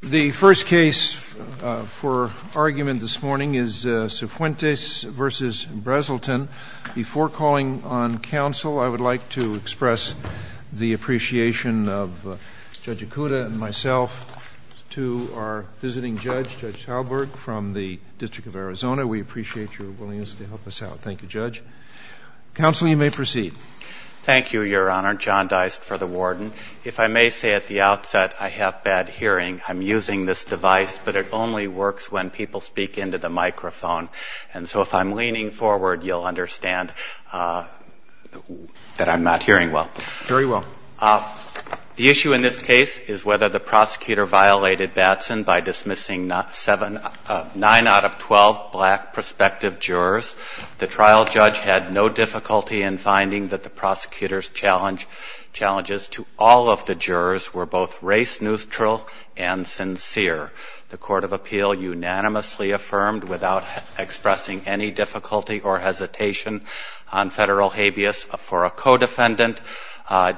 The first case for argument this morning is Sifuentes v. Brazelton. Before calling on counsel, I would like to express the appreciation of Judge Ikuda and myself to our visiting judge, Judge Halberg, from the District of Arizona. We appreciate your willingness to help us out. Thank you, Judge. Counsel, you may proceed. Thank you, Your Honor. John Deist for the warden. If I may say at the outset, I have bad hearing. I'm using this device, but it only works when people speak into the microphone. And so if I'm leaning forward, you'll understand that I'm not hearing well. Very well. The issue in this case is whether the prosecutor violated Batson by dismissing nine out of 12 black prospective jurors. The trial judge had no difficulty in finding that the prosecutor's challenges to all of the jurors were both race-neutral and sincere. The court of appeal unanimously affirmed without expressing any difficulty or hesitation on federal habeas. For a co-defendant,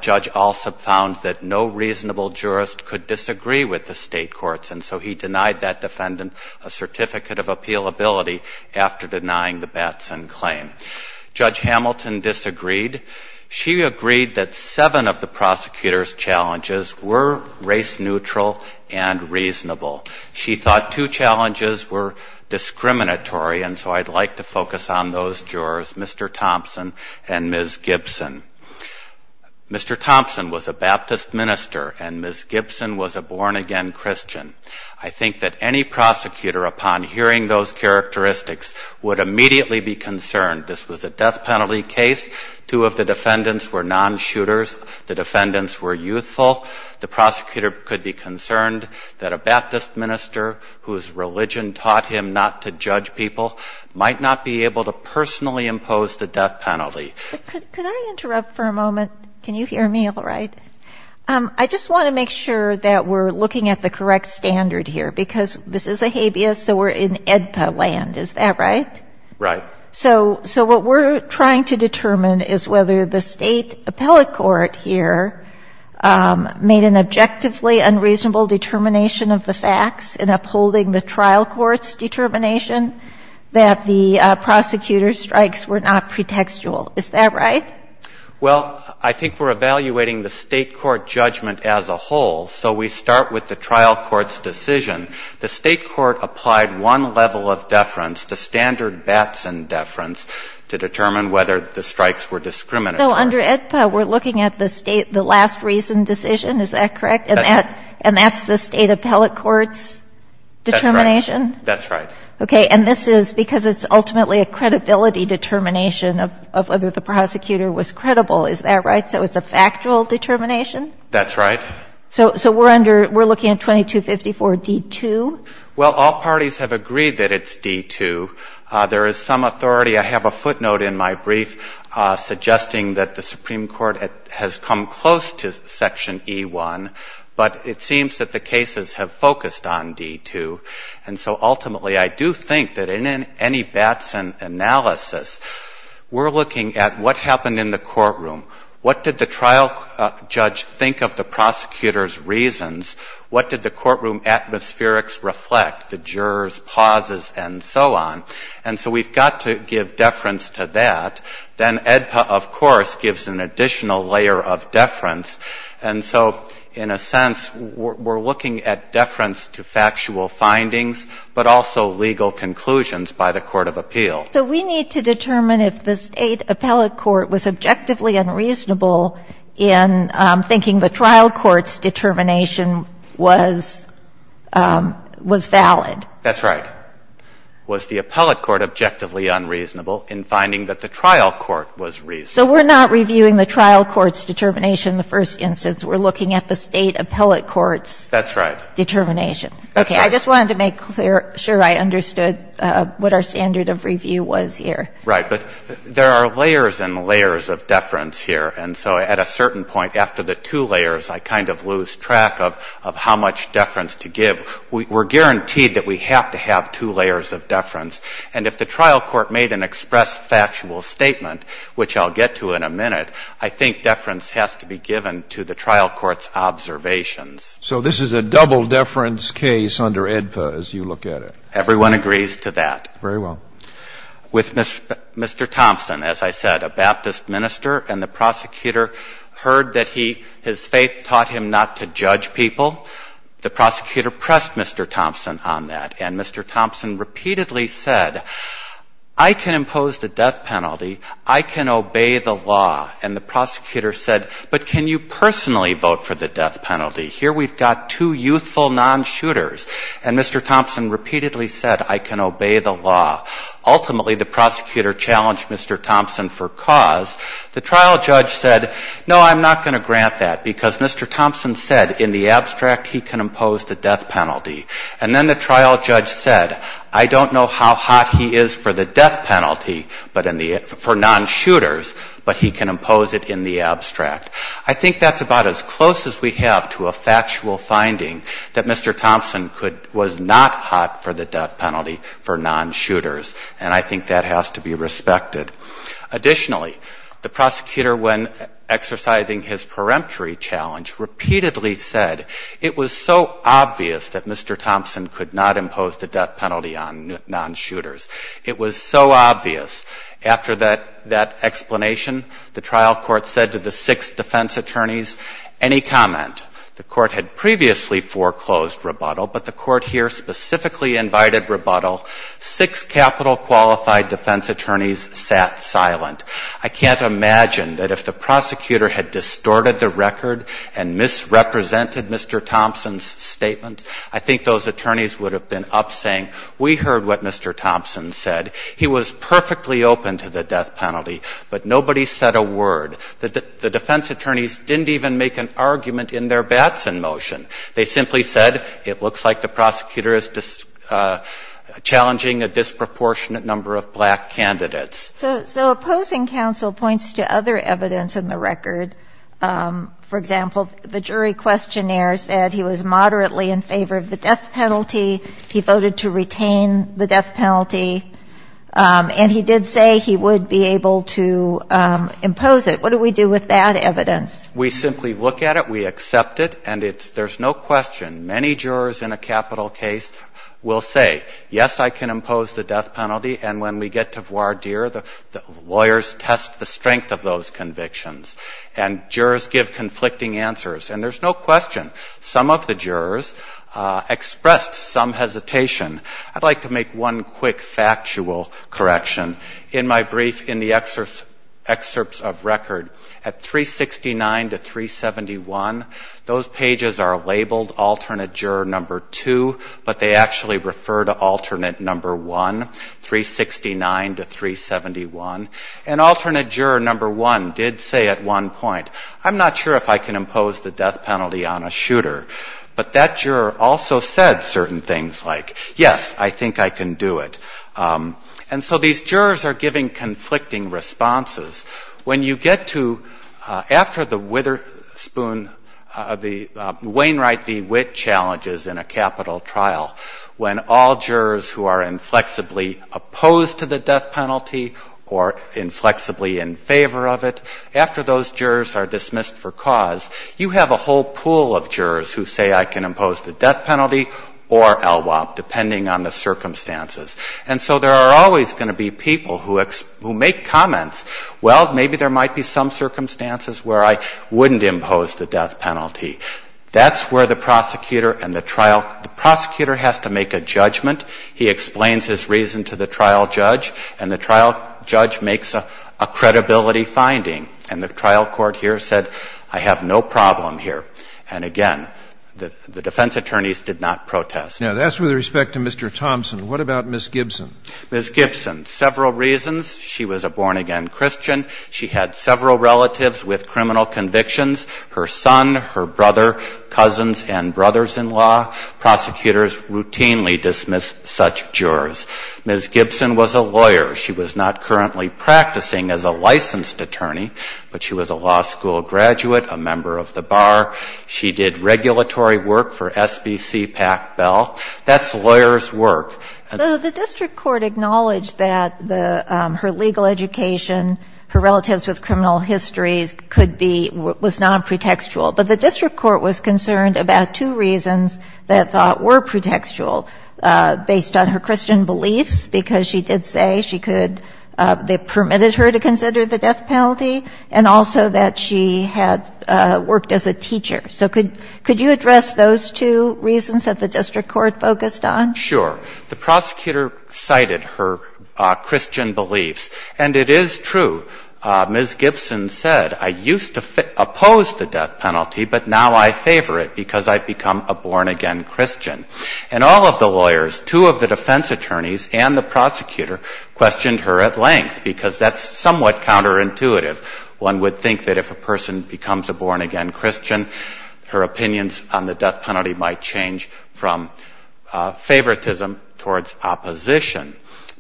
Judge Alsop found that no reasonable jurist could disagree with the state courts, and so he denied that defendant a certificate of appealability after denying the Batson claim. Judge Hamilton disagreed. She agreed that seven of the prosecutor's challenges were race-neutral and reasonable. She thought two challenges were discriminatory, and so I'd like to focus on those jurors, Mr. Thompson and Ms. Gibson. Mr. Thompson was a Baptist minister, and Ms. Gibson was a born-again Christian. I think that any prosecutor, upon hearing those characteristics, would immediately be concerned. This was a death penalty case. Two of the defendants were non-shooters. The defendants were youthful. The prosecutor could be concerned that a Baptist minister whose religion taught him not to judge people might not be able to personally impose the death penalty. Could I interrupt for a moment? Can you hear me all right? I just want to make sure that we're looking at the correct standard here, because this is a habeas, so we're in AEDPA land. Is that right? Right. So what we're trying to determine is whether the State appellate court here made an objectively unreasonable determination of the facts in upholding the trial court's determination that the prosecutor's strikes were not pretextual. Is that right? Well, I think we're evaluating the State court judgment as a whole, so we start with the trial court's decision. The State court applied one level of deference, the standard Batson deference, to determine whether the strikes were discriminatory. So under AEDPA, we're looking at the last reason decision, is that correct? That's right. And that's the State appellate court's determination? That's right. That's right. Okay. And this is because it's ultimately a credibility determination of whether the prosecutor was credible, is that right? So it's a factual determination? That's right. So we're under, we're looking at 2254 D-2? Well, all parties have agreed that it's D-2. There is some authority, I have a footnote in my brief suggesting that the Supreme Court has come close to Section E-1, but it seems that the cases have focused on D-2. And so ultimately I do think that in any Batson analysis, we're looking at what happened in the courtroom, what did the trial judge think of the prosecutor's reasons, what did the courtroom atmospherics reflect, the jurors' pauses and so on. And so we've got to give deference to that. Then AEDPA, of course, gives an additional layer of deference. And so in a sense, we're looking at deference to factual findings, but also legal conclusions by the court of appeal. So we need to determine if the State appellate court was objectively unreasonable in thinking the trial court's determination was valid. That's right. Was the appellate court objectively unreasonable in finding that the trial court was reasonable? So we're not reviewing the trial court's determination in the first instance. We're looking at the State appellate court's determination. That's right. Okay. I just wanted to make sure I understood what our standard of review was here. Right. But there are layers and layers of deference here. And so at a certain point, after the two layers, I kind of lose track of how much We're guaranteed that we have to have two layers of deference. And if the trial court made an express factual statement, which I'll get to in a minute, I think deference has to be given to the trial court's observations. So this is a double deference case under AEDPA as you look at it. Everyone agrees to that. Very well. With Mr. Thompson, as I said, a Baptist minister, and the prosecutor heard that he his faith taught him not to judge people. The prosecutor pressed Mr. Thompson on that. And Mr. Thompson repeatedly said, I can impose the death penalty. I can obey the law. And the prosecutor said, but can you personally vote for the death penalty? Here we've got two youthful non-shooters. And Mr. Thompson repeatedly said, I can obey the law. Ultimately, the prosecutor challenged Mr. Thompson for cause. The trial judge said, no, I'm not going to grant that, because Mr. Thompson said, in the abstract, he can impose the death penalty. And then the trial judge said, I don't know how hot he is for the death penalty for non-shooters, but he can impose it in the abstract. I think that's about as close as we have to a factual finding that Mr. Thompson was not hot for the death penalty for non-shooters. And I think that has to be respected. Additionally, the prosecutor, when exercising his peremptory challenge, repeatedly said, it was so obvious that Mr. Thompson could not impose the death penalty on non-shooters. It was so obvious. After that explanation, the trial court said to the six defense attorneys, any comment? The court had previously foreclosed rebuttal, but the court here specifically invited rebuttal. Six capital qualified defense attorneys sat silent. I can't imagine that if the prosecutor had distorted the record and misrepresented Mr. Thompson's statement, I think those attorneys would have been up saying, we heard what Mr. Thompson said. He was perfectly open to the death penalty, but nobody said a word. The defense attorneys didn't even make an argument in their Batson motion. They simply said, it looks like the prosecutor is challenging a disproportionate number of black candidates. So opposing counsel points to other evidence in the record. For example, the jury questionnaire said he was moderately in favor of the death penalty. He voted to retain the death penalty. And he did say he would be able to impose it. What do we do with that evidence? We simply look at it. We accept it. And there's no question. Many jurors in a capital case will say, yes, I can impose the death penalty. And when we get to voir dire, the lawyers test the strength of those convictions. And jurors give conflicting answers. And there's no question. Some of the jurors expressed some hesitation. I'd like to make one quick factual correction. In my brief in the excerpts of record, at 369 to 371, those pages are labeled alternate juror number two, but they actually refer to alternate number one. 369 to 371. And alternate juror number one did say at one point, I'm not sure if I can impose the death penalty on a shooter. But that juror also said certain things like, yes, I think I can do it. And so these jurors are giving conflicting responses. When you get to after the Witherspoon, the Wainwright v. Witt challenges in a capital trial, when all jurors who are inflexibly opposed to the death penalty or inflexibly in favor of it, after those jurors are dismissed for cause, you have a whole pool of jurors who say I can impose the death penalty or LWOP, depending on the circumstances. And so there are always going to be people who make comments, well, maybe there might be some circumstances where I wouldn't impose the death penalty. That's where the prosecutor and the trial the prosecutor has to make a judgment. He explains his reason to the trial judge, and the trial judge makes a credibility finding. And the trial court here said, I have no problem here. And again, the defense attorneys did not protest. Now, that's with respect to Mr. Thompson. What about Ms. Gibson? Ms. Gibson, several reasons. She was a born-again Christian. She had several relatives with criminal convictions, her son, her brother, cousins, and brothers-in-law. Prosecutors routinely dismiss such jurors. Ms. Gibson was a lawyer. She was not currently practicing as a licensed attorney, but she was a law school graduate, a member of the bar. She did regulatory work for SBC-PACBEL. That's lawyers' work. And so the district court acknowledged that the her legal education, her relatives with criminal histories could be, was not pretextual. But the district court was concerned about two reasons that were pretextual based on her Christian beliefs, because she did say she could — they permitted her to consider the death penalty, and also that she had worked as a teacher. So could you address those two reasons that the district court focused on? Sure. The prosecutor cited her Christian beliefs. And it is true. Ms. Gibson said, I used to oppose the death penalty, but now I favor it because I've become a born-again Christian. And all of the lawyers, two of the defense attorneys and the prosecutor, questioned her at length, because that's somewhat counterintuitive. One would think that if a person becomes a born-again Christian, her opinions on the death penalty might change from favoritism towards opposition.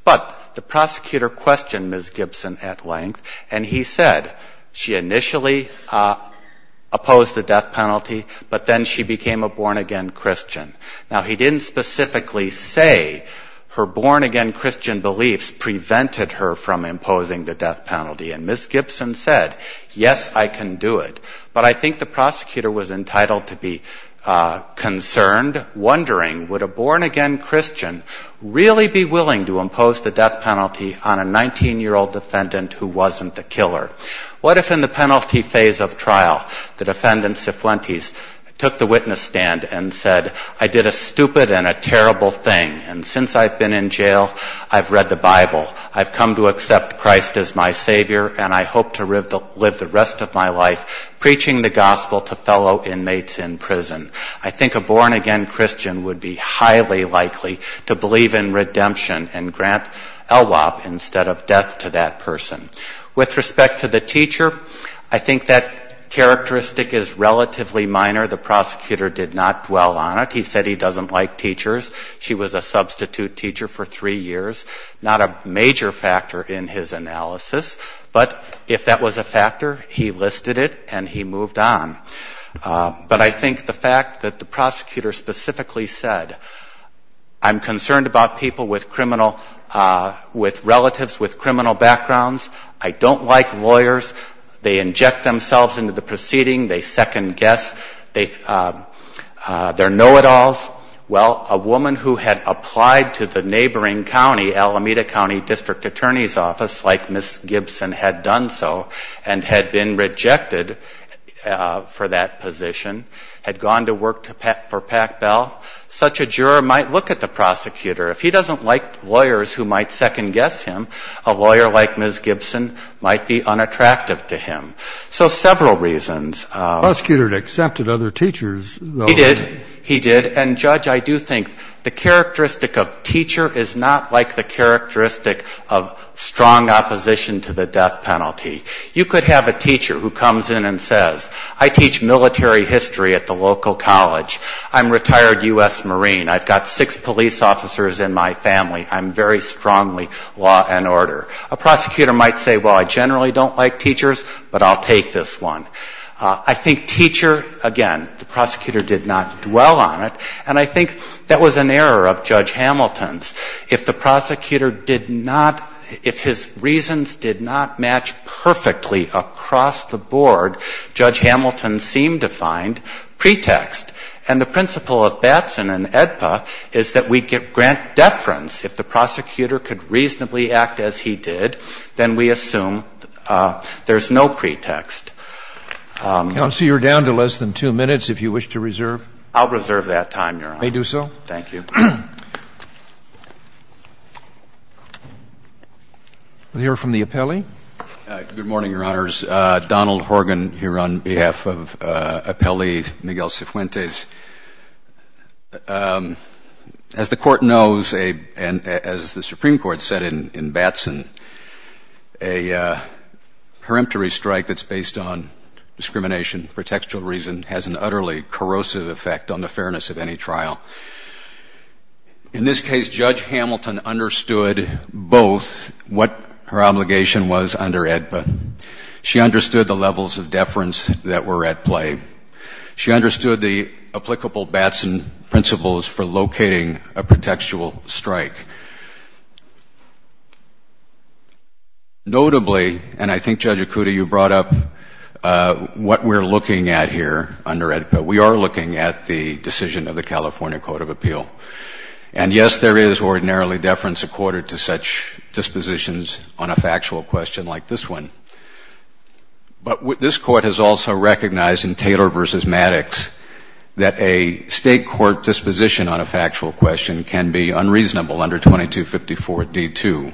But the prosecutor questioned Ms. Gibson at length, and he said she initially opposed the death penalty, but then she became a born-again Christian. Now, he didn't specifically say her born-again Christian beliefs prevented her from imposing the death penalty. And Ms. Gibson said, yes, I can do it. But I think the prosecutor was entitled to be concerned, wondering, would a born-again Christian be willing to impose the death penalty on a 19-year-old defendant who wasn't the killer? What if in the penalty phase of trial, the defendant, Cifuentes, took the witness stand and said, I did a stupid and a terrible thing, and since I've been in jail, I've read the Bible, I've come to accept Christ as my Savior, and I hope to live the rest of my life preaching the gospel to fellow inmates in prison? I think a born-again Christian would be highly likely to believe in redemption and grant Elwap instead of death to that person. With respect to the teacher, I think that characteristic is relatively minor. The prosecutor did not dwell on it. He said he doesn't like teachers. She was a substitute teacher for three years, not a major factor in his analysis. But if that was a factor, he listed it and he moved on. But I think the fact that the prosecutor specifically said, I'm concerned about people with criminal, with relatives with criminal backgrounds. I don't like lawyers. They inject themselves into the proceeding. They second-guess. They're know-it-alls. Well, a woman who had applied to the neighboring county, Alameda County District Attorney's Office, like Ms. Gibson had done so, and had been rejected for that position, had gone to work for Pac-Bell, such a juror might look at the prosecutor. If he doesn't like lawyers who might second-guess him, a lawyer like Ms. Gibson might be unattractive to him. So several reasons. The prosecutor had accepted other teachers, though. He did. He did. And, Judge, I do think the characteristic of teacher is not like the characteristic of strong opposition to the death penalty. You could have a teacher who comes in and says, I teach military history at the local college. I'm retired U.S. Marine. I've got six police officers in my family. I'm very strongly law and order. A prosecutor might say, well, I generally don't like teachers, but I'll take this one. I think teacher, again, the prosecutor did not dwell on it. And I think that was an error of Judge Hamilton's. If the prosecutor did not, if his reasons did not match perfectly across the board, Judge Hamilton seemed to find pretext. And the principle of Batson and AEDPA is that we grant deference. If the prosecutor could reasonably act as he did, then we assume there's no pretext. Counsel, you're down to less than two minutes if you wish to reserve. I'll reserve that time, Your Honor. May do so. Thank you. We'll hear from the appellee. Good morning, Your Honors. Donald Horgan here on behalf of Appellee Miguel Cifuentes. As the Court knows, and as the Supreme Court said in Batson, a peremptory strike that's based on discrimination, pretextual reason, has an utterly corrosive effect on the fairness of any trial. In this case, Judge Hamilton understood both what her obligation was under AEDPA. She understood the levels of deference that were at play. She understood the applicable Batson principles for locating a pretextual strike. Notably, and I think, Judge Akuta, you brought up what we're looking at here under AEDPA, we are looking at the decision of the California Court of Appeal. And, yes, there is ordinarily deference accorded to such dispositions on a factual question like this one. But this Court has also recognized in Taylor v. Maddox that a state court disposition on a factual question can be unreasonable under 2254 D.2,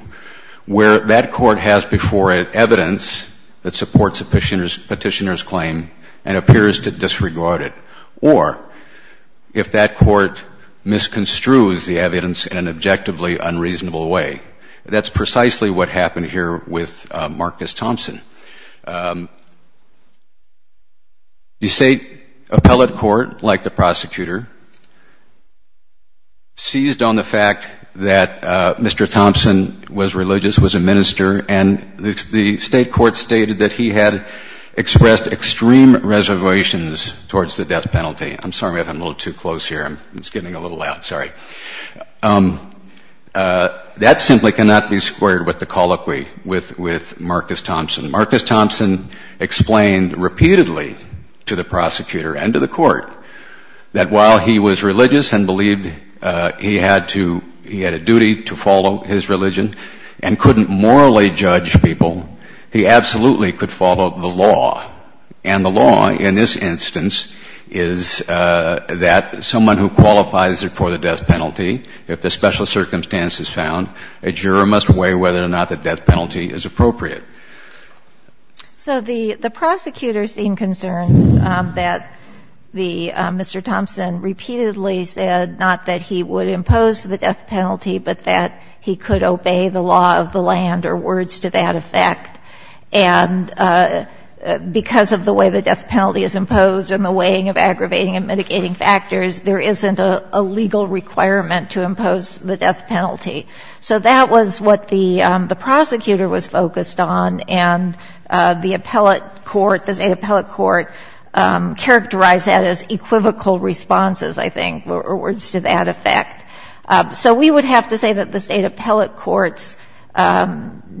where that court has before it evidence that supports a petitioner's claim and appears to disregard it, or if that court misconstrues the evidence in an objectively unreasonable way. That's precisely what happened here with Marcus Thompson. The state appellate court, like the prosecutor, seized on the fact that Mr. Thompson was religious, was a minister, and the state court stated that he had expressed extreme reservations towards the death penalty. I'm sorry if I'm a little too close here. It's getting a little loud, sorry. That simply cannot be squared with the colloquy with Marcus Thompson. Marcus Thompson explained repeatedly to the prosecutor and to the court that while he was religious and believed he had to, he had a duty to follow his religion and couldn't morally judge people, he absolutely could follow the law. And the law in this instance is that someone who qualifies for the death penalty if the special circumstance is found, a juror must weigh whether or not the death penalty is appropriate. So the prosecutor seemed concerned that the Mr. Thompson repeatedly said not that he would impose the death penalty, but that he could obey the law of the land or words to that effect. And because of the way the death penalty is imposed and the weighing of aggravating and mitigating factors, there isn't a legal requirement to impose the death penalty. So that was what the prosecutor was focused on, and the appellate court, the state appellate court characterized that as equivocal responses, I think, or words to that effect. So we would have to say that the state appellate court's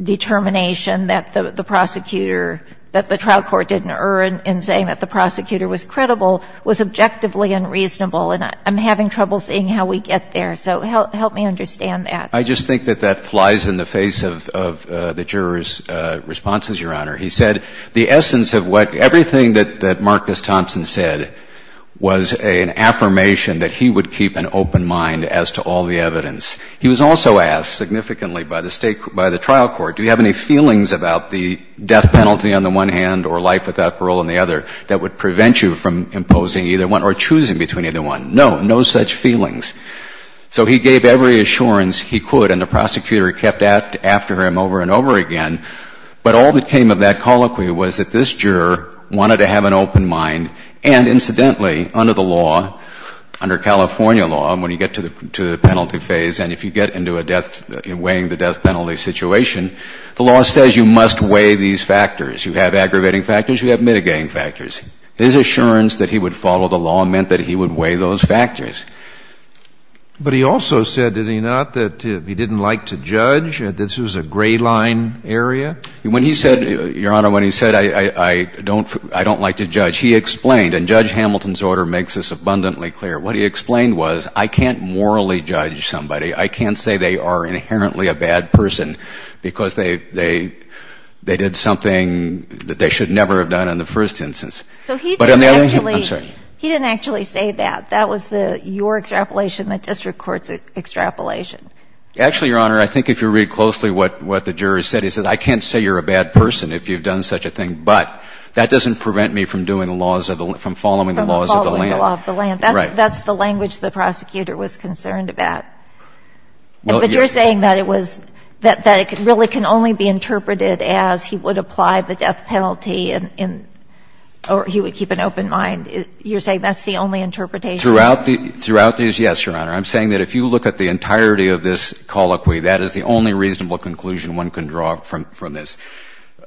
determination that the prosecutor that the trial court didn't err in saying that the prosecutor was credible was objectively unreasonable. And I'm having trouble seeing how we get there. So help me understand that. I just think that that flies in the face of the juror's responses, Your Honor. He said the essence of what everything that Marcus Thompson said was an affirmation that he would keep an open mind as to all the evidence. He was also asked significantly by the trial court, do you have any feelings about the death penalty on the one hand or life without parole on the other that would prevent you from imposing either one or choosing between either one? No, no such feelings. So he gave every assurance he could, and the prosecutor kept after him over and over again. But all that came of that colloquy was that this juror wanted to have an open mind. And incidentally, under the law, under California law, when you get to the penalty weighting the death penalty situation, the law says you must weigh these factors. You have aggravating factors. You have mitigating factors. His assurance that he would follow the law meant that he would weigh those factors. But he also said, did he not, that he didn't like to judge, that this was a gray line area? When he said, Your Honor, when he said I don't like to judge, he explained, and Judge Hamilton's order makes this abundantly clear, what he explained was I can't morally judge somebody. I can't say they are inherently a bad person because they did something that they should never have done in the first instance. But on the other hand he didn't actually say that. That was your extrapolation, the district court's extrapolation. Actually, Your Honor, I think if you read closely what the juror said, he said I can't say you're a bad person if you've done such a thing, but that doesn't prevent me from following the laws of the land. From following the law of the land. Right. That's the language the prosecutor was concerned about. But you're saying that it was, that it really can only be interpreted as he would apply the death penalty in, or he would keep an open mind. You're saying that's the only interpretation? Throughout these, yes, Your Honor. I'm saying that if you look at the entirety of this colloquy, that is the only reasonable conclusion one can draw from this.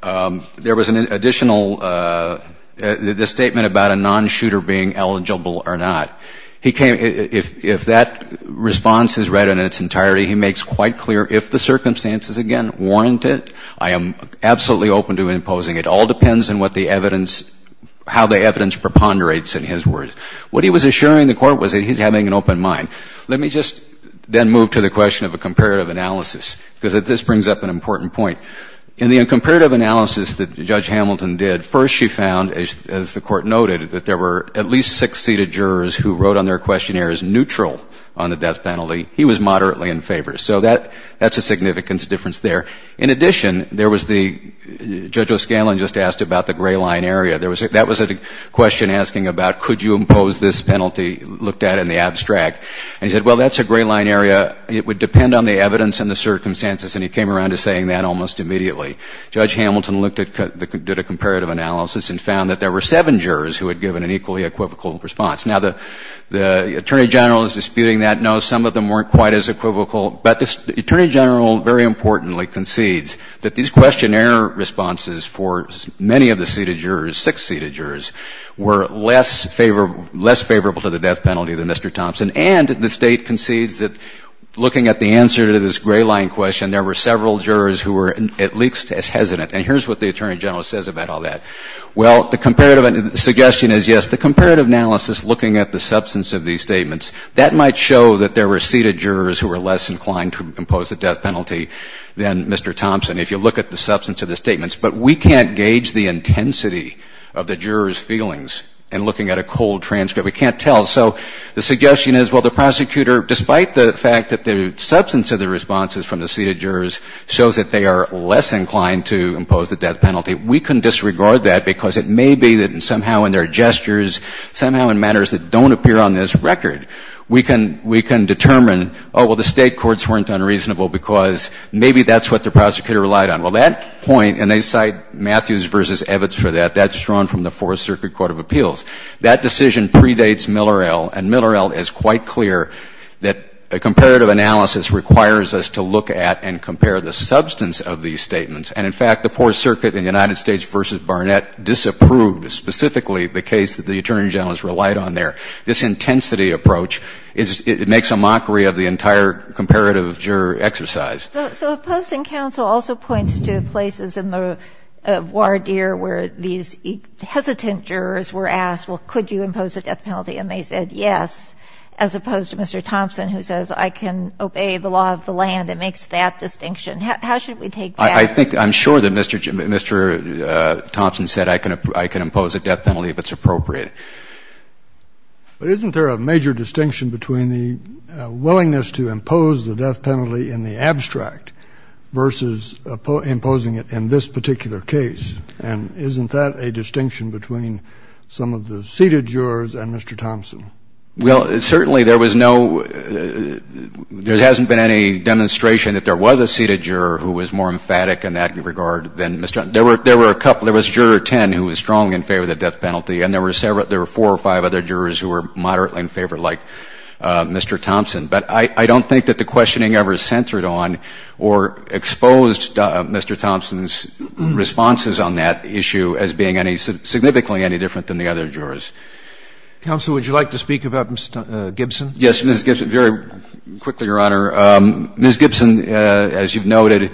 There was an additional, the statement about a non-shooter being eligible or not. He came, if that response is read in its entirety, he makes quite clear if the circumstances, again, warrant it, I am absolutely open to imposing. It all depends on what the evidence, how the evidence preponderates in his words. What he was assuring the Court was that he's having an open mind. Let me just then move to the question of a comparative analysis, because this brings up an important point. In the comparative analysis that Judge Hamilton did, first she found, as the Court noted, that there were at least six seated jurors who wrote on their questionnaires neutral on the death penalty. He was moderately in favor. So that's a significance difference there. In addition, there was the, Judge O'Scanlan just asked about the gray line area. That was a question asking about could you impose this penalty, looked at in the abstract. And he said, well, that's a gray line area. It would depend on the evidence and the circumstances. And he came around to saying that almost immediately. Judge Hamilton looked at the comparative analysis and found that there were seven jurors who had given an equally equivocal response. Now, the Attorney General is disputing that. No, some of them weren't quite as equivocal. But the Attorney General very importantly concedes that these questionnaire responses for many of the seated jurors, six seated jurors, were less favorable to the death penalty than Mr. Thompson. And the State concedes that looking at the answer to this gray line question, there were several jurors who were at least as hesitant. And here's what the Attorney General says about all that. Well, the comparative suggestion is, yes, the comparative analysis looking at the substance of these statements, that might show that there were seated jurors who were less inclined to impose the death penalty than Mr. Thompson, if you look at the substance of the statements. But we can't gauge the intensity of the jurors' feelings in looking at a cold transcript. We can't tell. So the suggestion is, well, the prosecutor, despite the fact that the substance of the responses from the seated jurors shows that they are less inclined to impose the death penalty, we can disregard that because it may be that somehow in their gestures, somehow in matters that don't appear on this record, we can determine, oh, well, the State courts weren't unreasonable because maybe that's what the prosecutor relied on. Well, that point, and they cite Matthews v. Evitz for that. That's drawn from the Fourth Circuit Court of Appeals. That decision predates Millerel, and Millerel is quite clear that a comparative analysis requires us to look at and compare the substance of these statements. And in fact, the Fourth Circuit in the United States v. Barnett disapproved specifically the case that the attorney general has relied on there. This intensity approach is — it makes a mockery of the entire comparative juror exercise. So opposing counsel also points to places in the voir dire where these hesitant jurors were asked, well, could you impose a death penalty? And they said yes, as opposed to Mr. Thompson, who says I can obey the law of the land and makes that distinction. How should we take that? I think — I'm sure that Mr. Thompson said I can impose a death penalty if it's appropriate. But isn't there a major distinction between the willingness to impose the death penalty in the abstract versus imposing it in this particular case? And isn't that a distinction between some of the seated jurors and Mr. Thompson? Well, certainly there was no — there hasn't been any demonstration that there was a seated juror who was more emphatic in that regard than Mr. Thompson. There were a couple. There was Juror 10 who was strong in favor of the death penalty, and there were several — there were four or five other jurors who were moderately in favor, like Mr. Thompson. But I don't think that the questioning ever centered on or exposed Mr. Thompson's responses on that issue as being any — significantly any different than the other jurors. Counsel, would you like to speak about Ms. Gibson? Yes, Ms. Gibson. Very quickly, Your Honor. Ms. Gibson, as you've noted,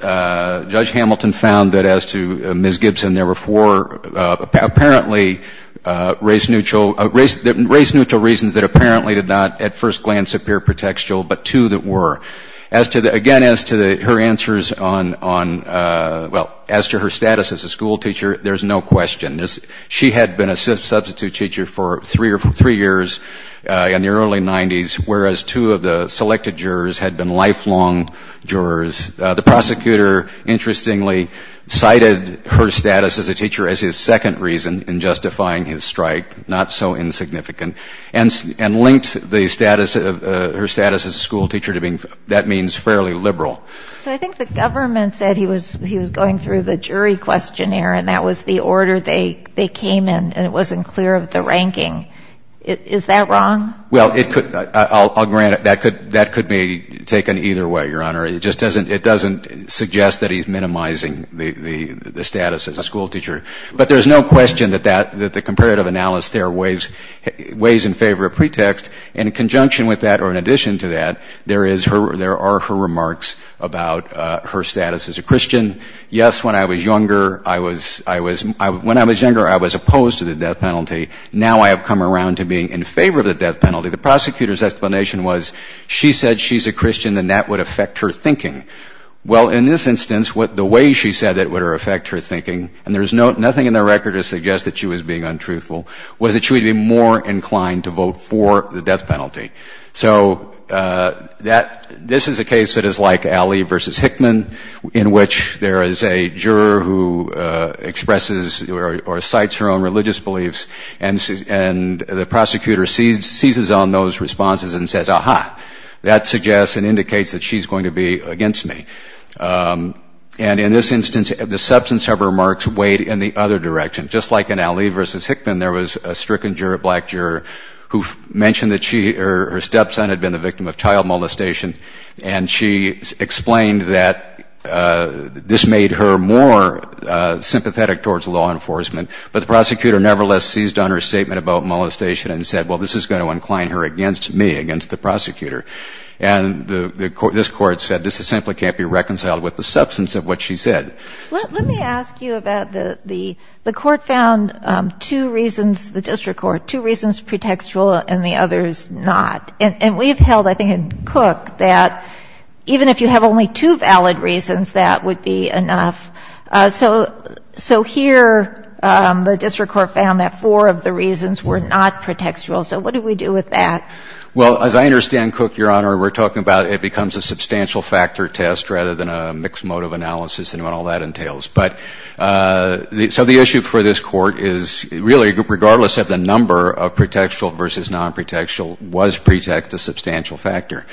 Judge Hamilton found that as to Ms. Gibson, there were four apparently race-neutral — race-neutral reasons that apparently did not at first glance appear pretextual, but two that were. As to the — again, as to her answers on — well, as to her status as a school teacher, there's no question. She had been a substitute teacher for three years in the early 90s, whereas two of the selected jurors had been lifelong jurors. The prosecutor, interestingly, cited her status as a teacher as his second reason in justifying his strike, not so insignificant, and linked the status of — her status as a school teacher to the fact that she had been a substitute teacher for three years And so, as to the question of whether or not Ms. Gibson had been a substitute teacher, that means fairly liberal. So I think the government said he was — he was going through the jury questionnaire and that was the order they came in, and it wasn't clear of the ranking. Is that wrong? Well, it could — I'll grant it. That could — that could be taken either way, Your Honor. It just doesn't — it doesn't suggest that he's minimizing the status as a school teacher. But there's no question that that — that the comparative analysis there weighs in favor of pretext. And in conjunction with that, or in addition to that, there is her — there are her remarks about her status as a Christian. Yes, when I was younger, I was — I was — when I was younger, I was opposed to the death penalty. Now I have come around to being in favor of the death penalty. The prosecutor's explanation was she said she's a Christian and that would affect her thinking. Well, in this instance, what — the way she said it would affect her thinking, and there's no — nothing in the record to suggest that she was being untruthful, was that she would be more inclined to vote for the death penalty. So that — this is a case that is like Alley v. Hickman, in which there is a juror who says, aha, that suggests and indicates that she's going to be against me. And in this instance, the substance of her remarks weighed in the other direction. Just like in Alley v. Hickman, there was a stricken juror, a black juror, who mentioned that she — her stepson had been the victim of child molestation, and she explained that this made her more sympathetic towards law enforcement. But the prosecutor nevertheless seized on her statement about molestation and said, well, this is going to incline her against me, against the prosecutor. And the — this Court said this simply can't be reconciled with the substance of what she said. Let me ask you about the — the Court found two reasons — the district court — two reasons pretextual and the others not. And we've held, I think, in Cook that even if you have only two valid reasons, that would be enough. So — so here, the district court found that four of the reasons were not pretextual. So what do we do with that? Well, as I understand, Cook, Your Honor, we're talking about it becomes a substantial factor test rather than a mixed motive analysis and what all that entails. But — so the issue for this Court is, really, regardless of the number of pretextual versus non-pretextual, was pretext a substantial factor?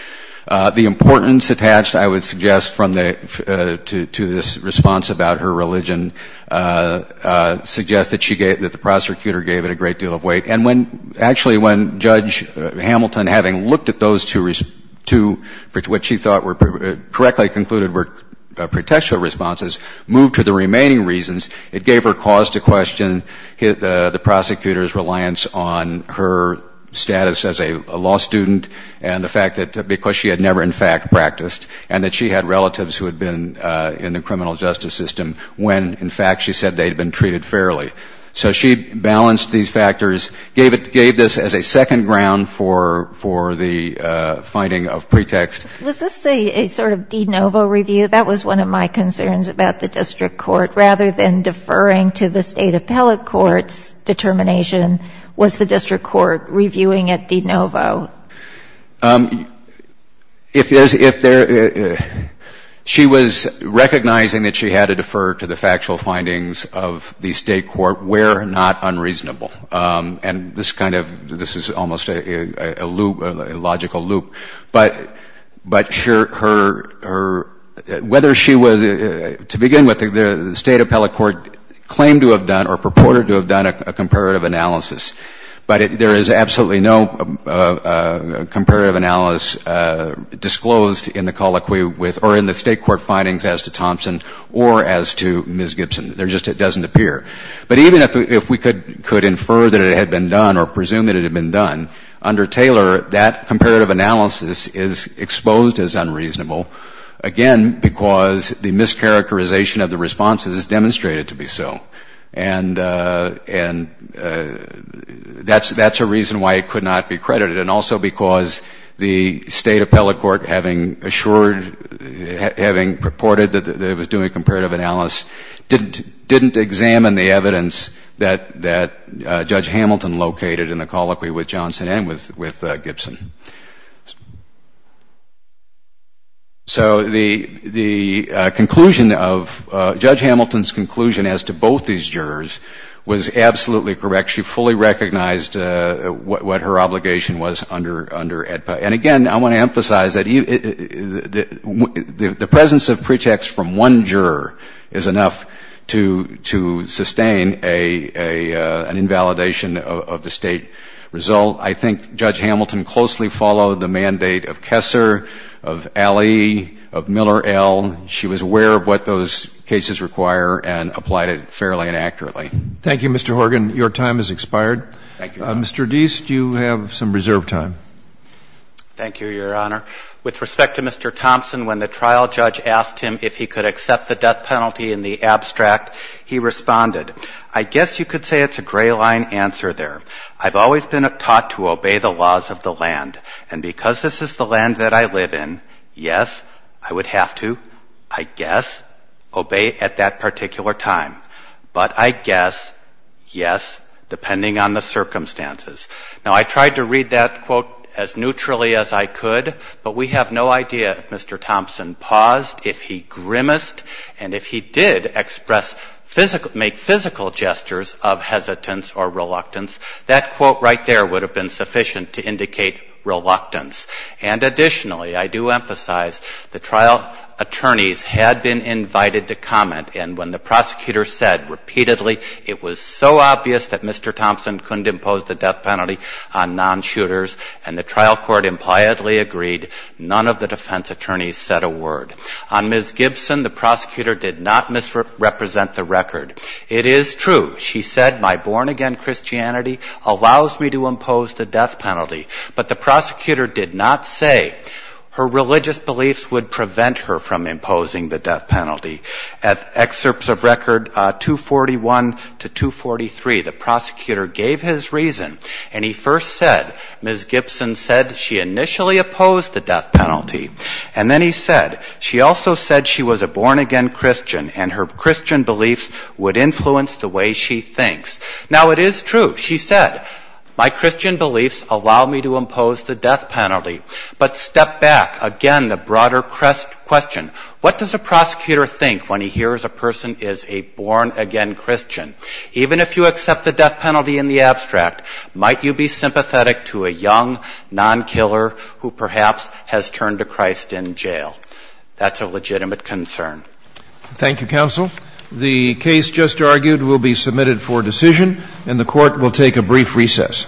The importance attached, I would suggest, from the — to this response about her religion suggests that she gave — that the prosecutor gave it a great deal of weight. And when — actually, when Judge Hamilton, having looked at those two — two — which she thought were — correctly concluded were pretextual responses, moved to the remaining reasons, it gave her cause to question the prosecutor's reliance on her status as a defendant because she had never, in fact, practiced and that she had relatives who had been in the criminal justice system when, in fact, she said they had been treated fairly. So she balanced these factors, gave it — gave this as a second ground for — for the finding of pretext. Was this a sort of de novo review? That was one of my concerns about the district court. Rather than deferring to the State Appellate Court's determination, was the district court reviewing it de novo? If there's — if there — she was recognizing that she had to defer to the factual findings of the State Court where not unreasonable. And this kind of — this is almost a loop — a logical loop. But — but her — her — whether she was — to begin with, the State Appellate Court claimed to have done or purported to have done a comparative analysis. But it — there is absolutely no comparative analysis disclosed in the colloquy with — or in the State Court findings as to Thompson or as to Ms. Gibson. There just — it doesn't appear. But even if we could — could infer that it had been done or presume that it had been done, under Taylor, that comparative analysis is exposed as unreasonable, again, because the mischaracterization of the responses demonstrated to be so. And — and that's — that's a reason why it could not be credited. And also because the State Appellate Court, having assured — having purported that it was doing a comparative analysis, didn't — didn't examine the evidence that — that Judge Hamilton located in the colloquy with Johnson and with — with Gibson. So the — the conclusion of — Judge Hamilton's conclusion as to both these jurors was absolutely correct. She fully recognized what — what her obligation was under — under AEDPA. And again, I want to emphasize that the — the presence of pretext from one juror is enough to — to sustain a — a — an invalidation of the State result. I think Judge Hamilton closely followed the mandate of Kessler, of Alley, of Miller, L. She was aware of what those cases require and applied it fairly and accurately. Thank you, Mr. Horgan. Your time has expired. Thank you, Your Honor. Mr. Deist, you have some reserved time. Thank you, Your Honor. With respect to Mr. Thompson, when the trial judge asked him if he could accept the death penalty in the abstract, he responded, I guess you could say it's a gray-line answer there. I've always been taught to obey the laws of the land, and because this is the land that I live in, yes, I would have to, I guess, obey at that particular time. But I guess, yes, depending on the circumstances. Now, I tried to read that, quote, as neutrally as I could, but we have no idea if Mr. Thompson paused, if he grimaced, and if he did express — make physical gestures of that quote right there would have been sufficient to indicate reluctance. And additionally, I do emphasize the trial attorneys had been invited to comment, and when the prosecutor said repeatedly it was so obvious that Mr. Thompson couldn't impose the death penalty on non-shooters, and the trial court impliedly agreed, none of the defense attorneys said a word. On Ms. Gibson, the prosecutor did not misrepresent the record. It is true, she said, my born-again Christianity allows me to impose the death penalty. But the prosecutor did not say her religious beliefs would prevent her from imposing the death penalty. At excerpts of record 241 to 243, the prosecutor gave his reason, and he first said, Ms. Gibson said she initially opposed the death penalty, and then he said she also said she was a born-again Christian, and her Christian beliefs would influence the way she thinks. Now, it is true, she said, my Christian beliefs allow me to impose the death penalty. But step back. Again, the broader question, what does a prosecutor think when he hears a person is a born-again Christian? Even if you accept the death penalty in the abstract, might you be sympathetic to a young non-killer who perhaps has turned to Christ in jail? That's a legitimate concern. Thank you, Counsel. The case just argued will be submitted for decision, and the Court will take a brief recess.